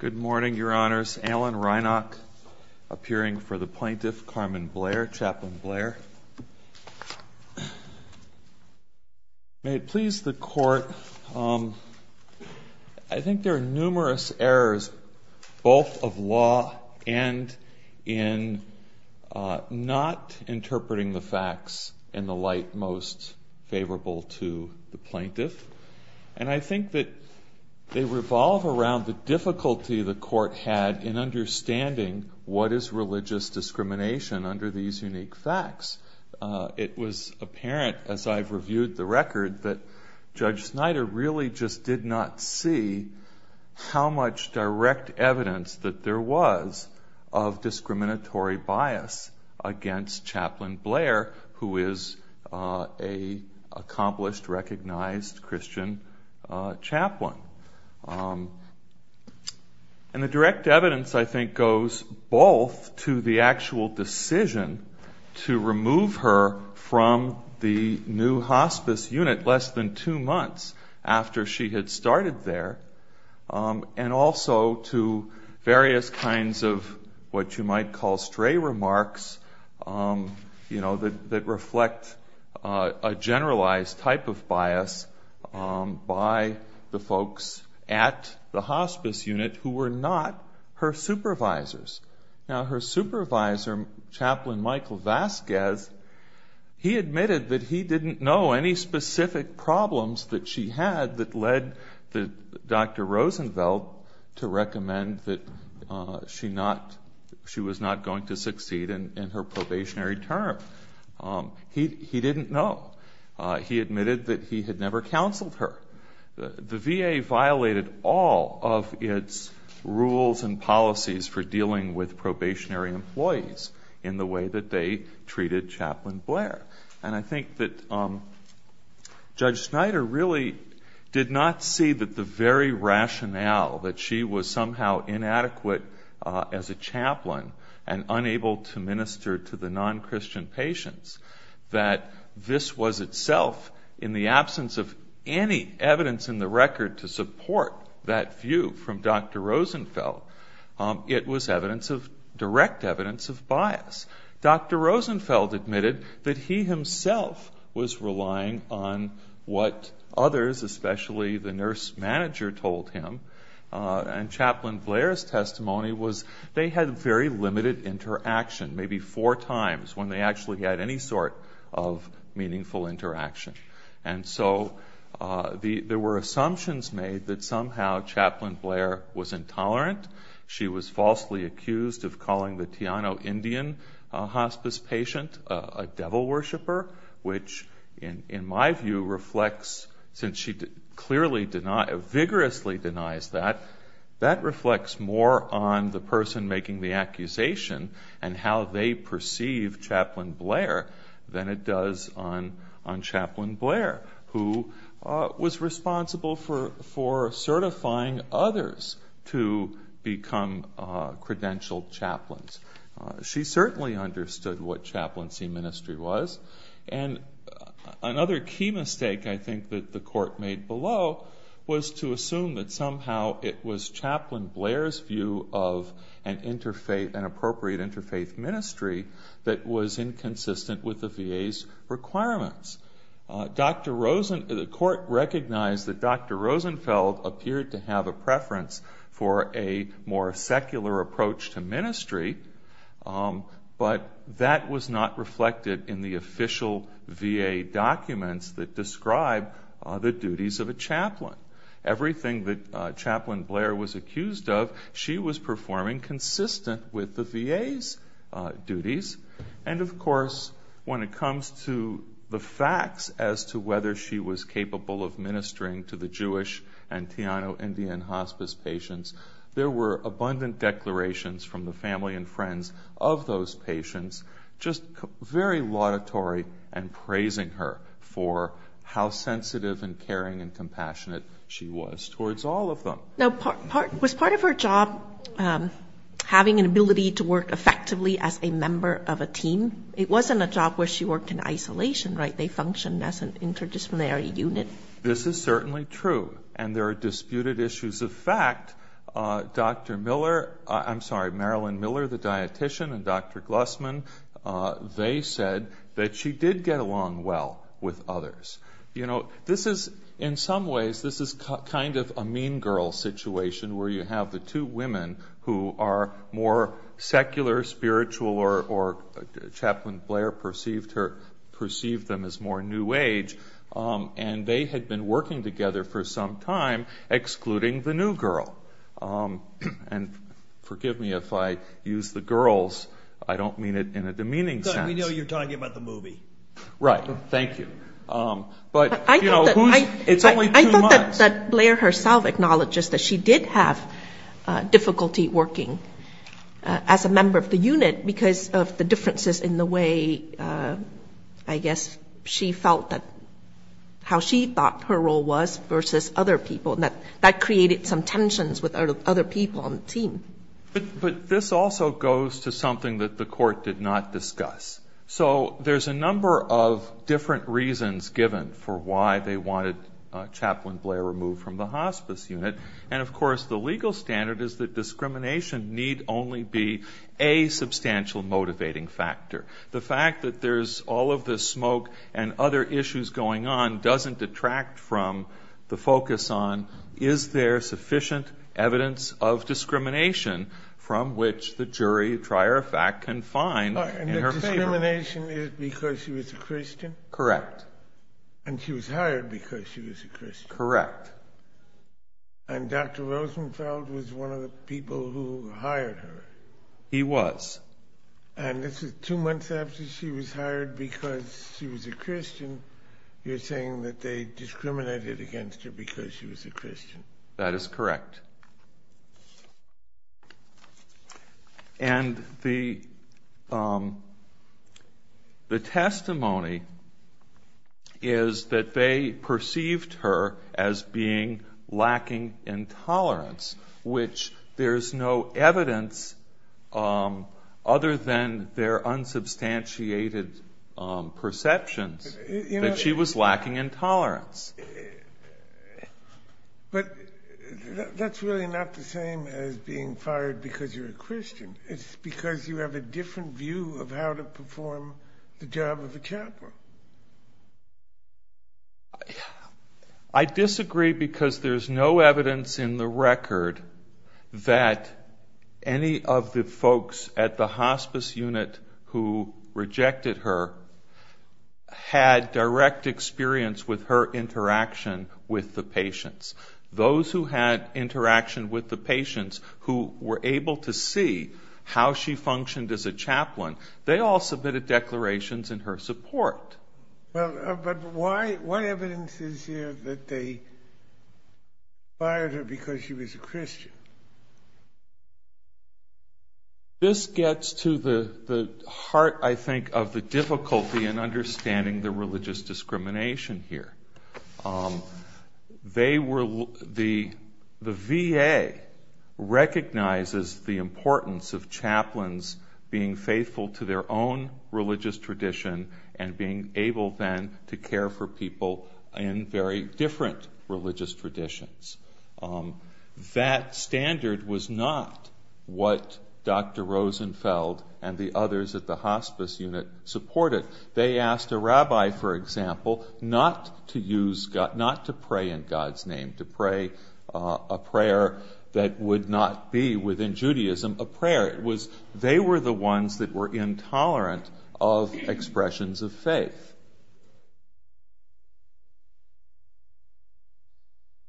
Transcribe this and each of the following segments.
Good morning, Your Honors. Alan Rynok, appearing for the plaintiff, Carmen Blair, Chaplain Blair. May it please the Court, I think there are numerous errors, both of law and in not interpreting the facts in the light most favorable to the plaintiff. And I think that they revolve around the difficulty the Court had in understanding what is religious discrimination under these unique facts. It was apparent, as I've reviewed the record, that Judge Snyder really just did not see how much direct evidence that there was of discriminatory bias against Chaplain Blair, who is a accomplished, recognized Christian chaplain. And the direct evidence, I think, goes both to the actual decision to remove her from the new hospice unit less than two months after she had started there, and also to various kinds of what you might call stray remarks that reflect a generalized type of bias by the folks at the hospice unit who were not her supervisors. Now, her supervisor, Chaplain Michael Vasquez, he admitted that he didn't know any specific problems that she had that led Dr. Rosenvelt to recommend that she was not going to succeed in her probationary term. He didn't know. He admitted that he had never counseled her. The VA violated all of its rules and policies for dealing with probationary employees in the way that they treated Chaplain Blair. And I think that Judge Snyder really did not see that the very rationale that she was somehow inadequate as a chaplain and unable to minister to the non-Christian patients, that this was itself, in the absence of any evidence in the record to support that view from Dr. Rosenvelt, it was direct evidence of bias. Dr. Rosenvelt admitted that he himself was relying on what others, especially the nurse manager, told him. And Chaplain Blair's testimony was they had very limited interaction, maybe four times, when they actually had any sort of meaningful interaction. And so there were assumptions made that somehow Chaplain Blair was intolerant. She was falsely accused of calling the Teano Indian hospice patient a devil worshiper, which, in my view, reflects, since she clearly vigorously denies that, that reflects more on the person making the accusation and how they perceive Chaplain Blair than it does on Chaplain Blair, who was responsible for certifying others to become credentialed chaplains. She certainly understood what chaplaincy ministry was. And another key mistake, I think, that the court made below was to assume that somehow it was Chaplain Blair's view of an appropriate interfaith ministry that was inconsistent with the VA's requirements. Dr. Rosen, the court recognized that Dr. Rosenvelt appeared to be, but that was not reflected in the official VA documents that describe the duties of a chaplain. Everything that Chaplain Blair was accused of, she was performing consistent with the VA's duties. And of course, when it comes to the facts as to whether she was capable of ministering to the Jewish and Teano Indian hospice patients, there were abundant declarations from the family and friends of those patients, just very laudatory and praising her for how sensitive and caring and compassionate she was towards all of them. Now, was part of her job having an ability to work effectively as a member of a team? It wasn't a job where she worked in isolation, right? They functioned as an interdisciplinary unit. This is certainly true. And there are disputed issues of fact. Dr. Miller, I'm sorry, Marilyn Miller, the dietician, and Dr. Glussman, they said that she did get along well with others. You know, this is, in some ways, this is kind of a mean girl situation where you have the two women who are more secular, spiritual, or Chaplain Blair perceived her, perceived them as more new age, and they had been working together for some time, excluding the new girl. And forgive me if I use the girls, I don't mean it in a demeaning sense. We know you're talking about the movie. Right, thank you. But, you know, who's, it's only two months. I thought that Blair herself acknowledges that she did have difficulty working as a member of the unit because of the differences in the way, I guess, she felt that, how she thought her role was versus other people, and that created some tensions with other people on the team. But this also goes to something that the court did not discuss. So there's a number of different reasons given for why they wanted Chaplain Blair removed from the hospice unit, and of course, the legal standard is that discrimination need only be a substantial motivating factor. The fact that there's all of this smoke and other issues going on doesn't detract from the focus on, is there sufficient evidence of discrimination from which the jury, try or fact, can find in her favor? And the discrimination is because she was a Christian? Correct. And she was hired because she was a Christian? Correct. And Dr. Rosenfeld was one of the people who hired her? And this is two months after she was hired because she was a Christian. You're saying that they discriminated against her because she was a Christian? That is correct. And the testimony is that they perceived her as being lacking in tolerance, which there's no evidence other than their unsubstantiated perceptions that she was lacking in tolerance. But that's really not the same as being fired because you're a Christian. It's because you have a different view of how to perform the job of a chaplain. I disagree because there's no evidence in the record that any of the folks at the hospice unit who rejected her had direct experience with her interaction with the patients. Those who had interaction with the patients who were able to see how she functioned as a chaplain, they all submitted declarations in her support. Well, but what evidence is there that they fired her because she was a Christian? This gets to the heart, I think, of the difficulty in understanding the religious discrimination here. The VA recognizes the importance of chaplains being faithful to their own religious tradition and being able then to care for people in very different religious traditions. That standard was not what Dr. Rosenfeld and the others at the hospice unit supported. They asked a rabbi, for example, not to pray in God's name, to pray a prayer that would not be within Judaism a prayer. They were the ones that were intolerant of expressions of faith. Yes?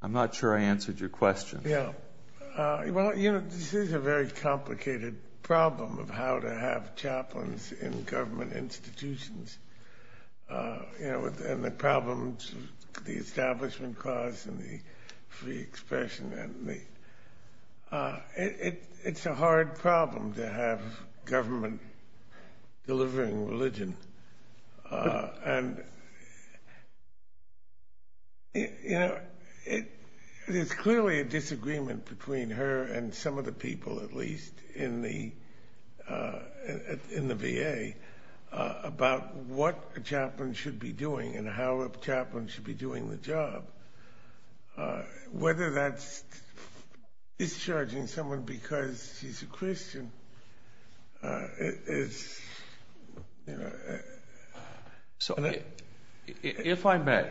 I'm not sure I answered your question. Yeah, well, you know, this is a very complicated problem of how to have chaplains in government institutions. You know, and the problems, the establishment cause and the free expression and the, it's a hard problem to have government delivering religion. And, you know, there's clearly a disagreement between her and some of the people, at least, in the VA about what a chaplain should be doing and how a chaplain should be doing the job. Whether that's discharging someone because she's a Christian is, you know. So if I may,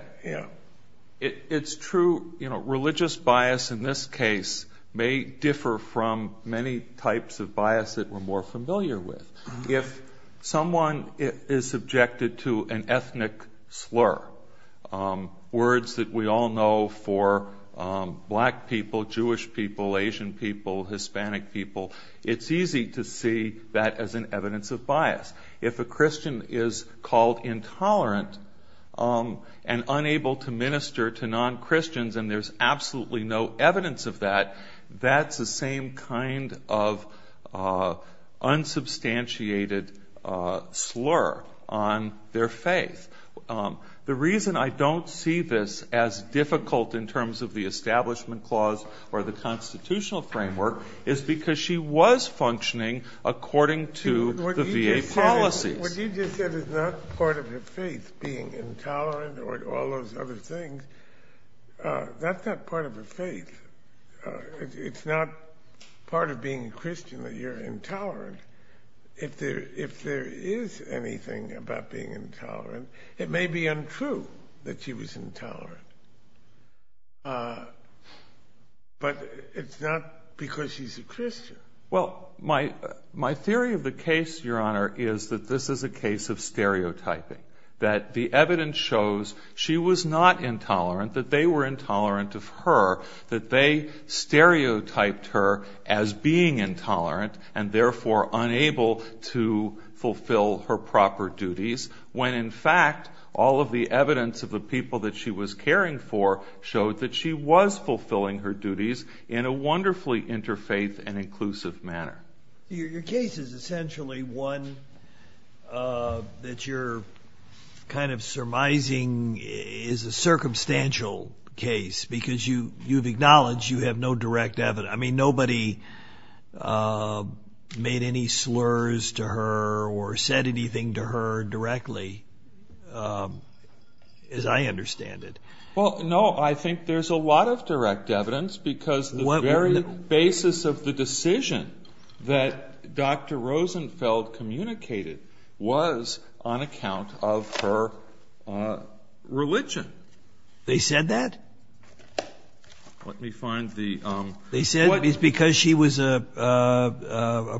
it's true, you know, religious bias in this case may differ from many types of bias that we're more familiar with. If someone is subjected to an ethnic slur, words that we all know for black people, Jewish people, Asian people, Hispanic people, it's easy to see that as an evidence of bias. If a Christian is called intolerant and unable to minister to non-Christians and there's absolutely no evidence of that, that's the same kind of unsubstantiated slur on their faith. The reason I don't see this as difficult in terms of the establishment clause or the constitutional framework is because she was functioning according to the VA policy. What you just said is not part of her faith, being intolerant or all those other things. That's not part of her faith. It's not part of being a Christian that you're intolerant. If there is anything about being intolerant, it may be untrue that she was intolerant. But it's not because she's a Christian. Well, my theory of the case, Your Honor, is that this is a case of stereotyping, that the evidence shows she was not intolerant, that they were intolerant of her, that they stereotyped her as being intolerant and therefore unable to fulfill her proper duties when in fact all of the evidence of the people that she was caring for showed that she was fulfilling her duties in a wonderfully interfaith and inclusive manner. Your case is essentially one that you're kind of surmising is a circumstantial case because you've acknowledged you have no direct evidence. I mean, nobody made any slurs to her or said anything to her directly as I understand it. Well, no, I think there's a lot of direct evidence because the very basis of the decision that Dr. Rosenfeld communicated was on account of her religion. They said that? Let me find the... They said it's because she was a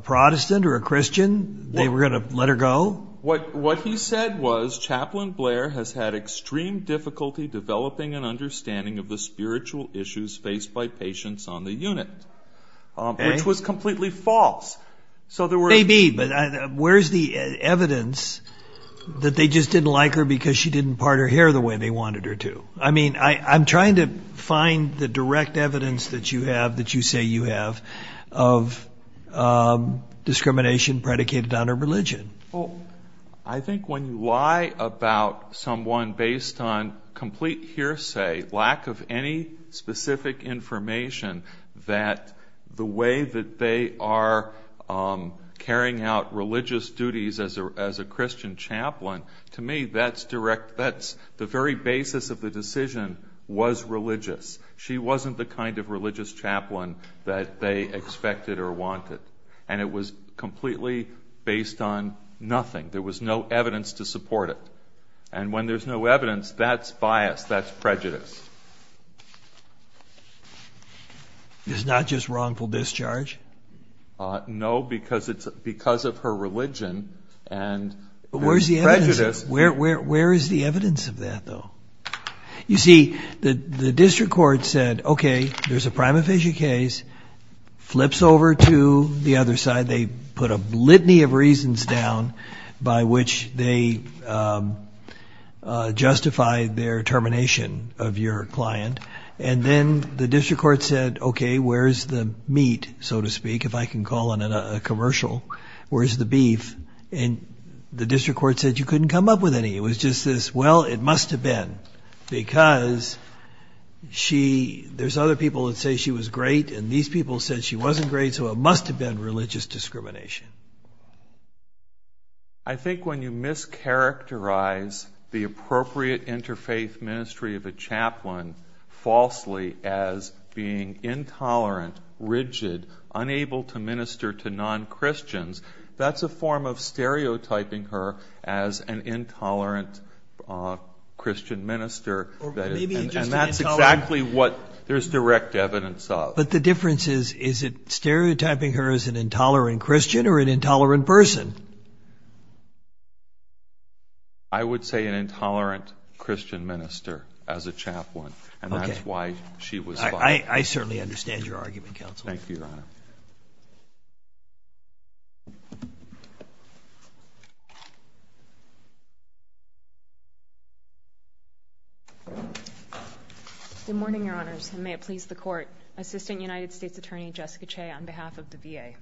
Protestant or a Christian, they were going to let her go? What he said was Chaplain Blair has had extreme difficulty developing an understanding of the spiritual issues faced by patients on the unit, which was completely false. So there were... Maybe, but where's the evidence that they just didn't like her because she didn't part her hair the way they wanted her to? I mean, I'm trying to find the direct evidence that you have, that you say you have of discrimination predicated on her religion. Well, I think when you lie about someone based on complete hearsay, lack of any specific information that the way that they are carrying out religious duties as a Christian chaplain, to me, that's the very basis of the decision was religious. She wasn't the kind of religious chaplain that they expected or wanted. And it was completely based on nothing. There was no evidence to support it. And when there's no evidence, that's bias, that's prejudice. It's not just wrongful discharge? No, because of her religion and prejudice. Where is the evidence of that though? You see, the district court said, okay, there's a prima facie case, flips over to the other side. They put a litany of reasons down by which they justify their termination of your client. And then the district court said, okay, where's the meat, so to speak, if I can call it a commercial, where's the beef? And the district court said, you couldn't come up with any. It was just this, well, it must have been because there's other people that say she was great. And these people said she wasn't great. So it must have been religious discrimination. I think when you mischaracterize the appropriate interfaith ministry of a chaplain falsely as being intolerant, rigid, unable to minister to non-Christians, that's a form of stereotyping her as an intolerant Christian minister. And that's exactly what there's direct evidence of. But the difference is, is it stereotyping her as an intolerant Christian or an intolerant person? I would say an intolerant Christian minister as a chaplain, and that's why she was fired. I certainly understand your argument, counsel. Thank you, your honor. Good morning, your honors, and may it please the court. Assistant United States Attorney Jessica Che on behalf of the VA.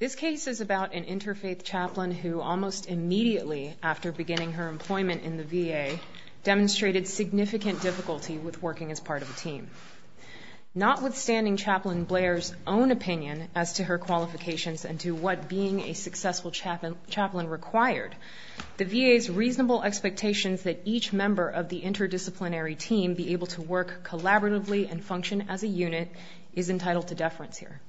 This case is about an interfaith chaplain who almost immediately after beginning her employment in the VA demonstrated significant difficulty with working as part of a team. Notwithstanding Chaplain Blair's own opinion as to her qualifications and to what being a successful chaplain required, the VA's reasonable expectations that each member of the interdisciplinary team be able to work collaboratively and function as a unit is entitled to deference here.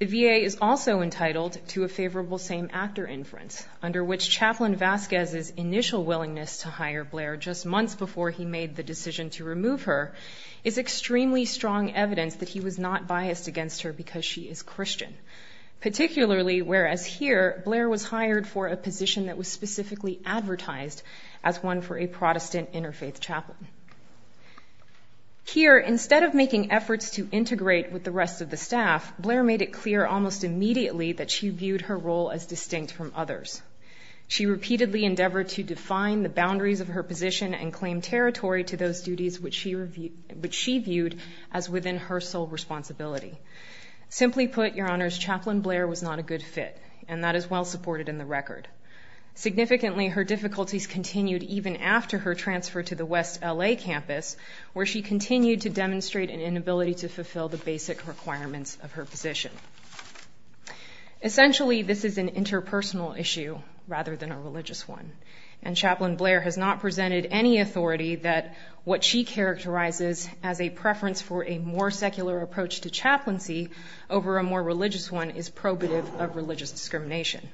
The VA is also entitled to a favorable same actor inference under which Chaplain Vasquez's initial willingness to hire Blair just months before he made the decision to remove her is extremely strong evidence that he was not biased against her because she is Christian, particularly whereas here, Blair was hired for a position that was specifically advertised as one for a Protestant interfaith chaplain. Here, instead of making efforts to integrate with the rest of the staff, Blair made it clear almost immediately that she viewed her role as distinct from others. She repeatedly endeavored to define the boundaries of her position and claim territory to those duties which she viewed as within her sole responsibility. Simply put, Your Honors, Chaplain Blair was not a good fit and that is well supported in the record. Significantly, her difficulties continued even after her transfer to the West LA campus where she continued to demonstrate an inability to fulfill the basic requirements of her position. Essentially, this is an interpersonal issue rather than a religious one and Chaplain Blair has not presented any authority that what she characterizes as a preference for a more secular approach to chaplaincy over a more religious one is probative of religious discrimination.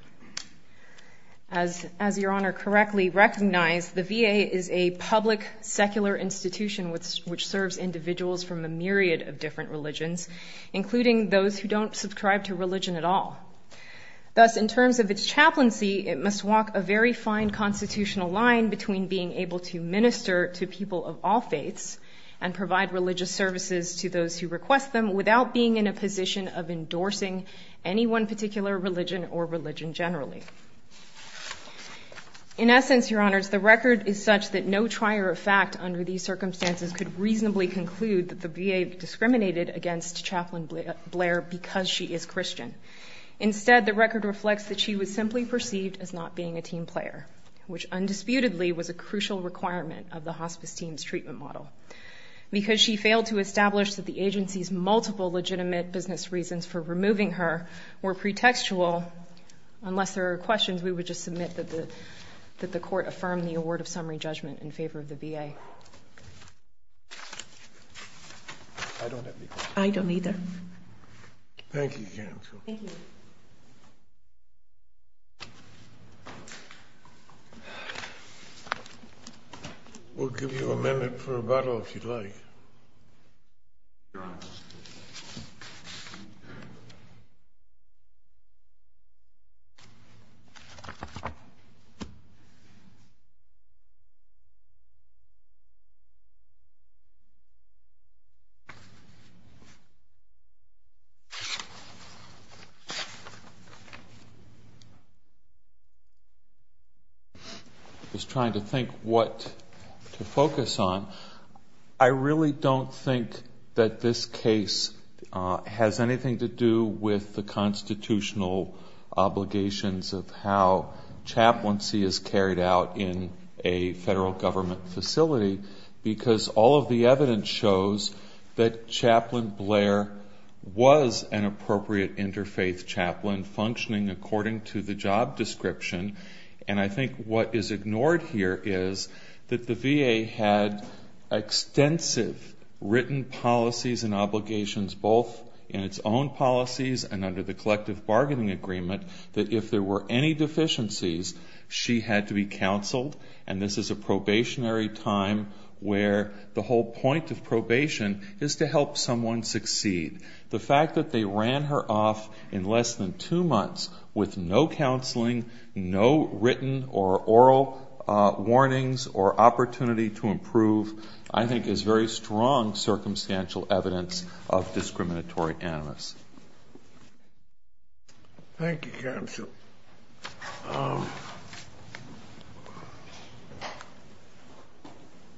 As Your Honor correctly recognized, the VA is a public secular institution which serves individuals from a myriad of different religions, including those who don't subscribe to religion at all. Thus, in terms of its chaplaincy, it must walk a very fine constitutional line between being able to minister to people of all faiths and provide religious services to those who request them without being in a position of endorsing any one particular religion or religion generally. In essence, Your Honors, the record is such that no trier of fact under these circumstances could reasonably conclude that the VA discriminated against Chaplain Blair because she is Christian. Instead, the record reflects that she was simply perceived as not being a team player, which undisputedly was a crucial requirement of the hospice team's treatment model. Because she failed to establish that the agency's multiple legitimate business reasons for removing her were pretextual, unless there are questions, we would just submit that the court affirm the award of summary judgment in favor of the VA. I don't have any questions. I don't either. Thank you, counsel. Thank you. We'll give you a minute for rebuttal if you'd like. Thank you. Just trying to think what to focus on. I really don't think that this case has anything to do with the constitutional obligations of how chaplaincy is carried out in a federal government facility because all of the evidence shows that Chaplain Blair was an appropriate interfaith chaplain functioning according to the job description. And I think what is ignored here is that the VA had extensive written policies and obligations, both in its own policies and under the collective bargaining agreement, that if there were any deficiencies, she had to be counseled. And this is a probationary time where the whole point of probation is to help someone succeed. The fact that they ran her off in less than two months with no counseling, no written or oral warnings or opportunity to improve, I think is very strong circumstantial evidence of discriminatory animus. Thank you, counsel.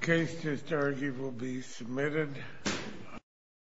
Case to stargate will be submitted.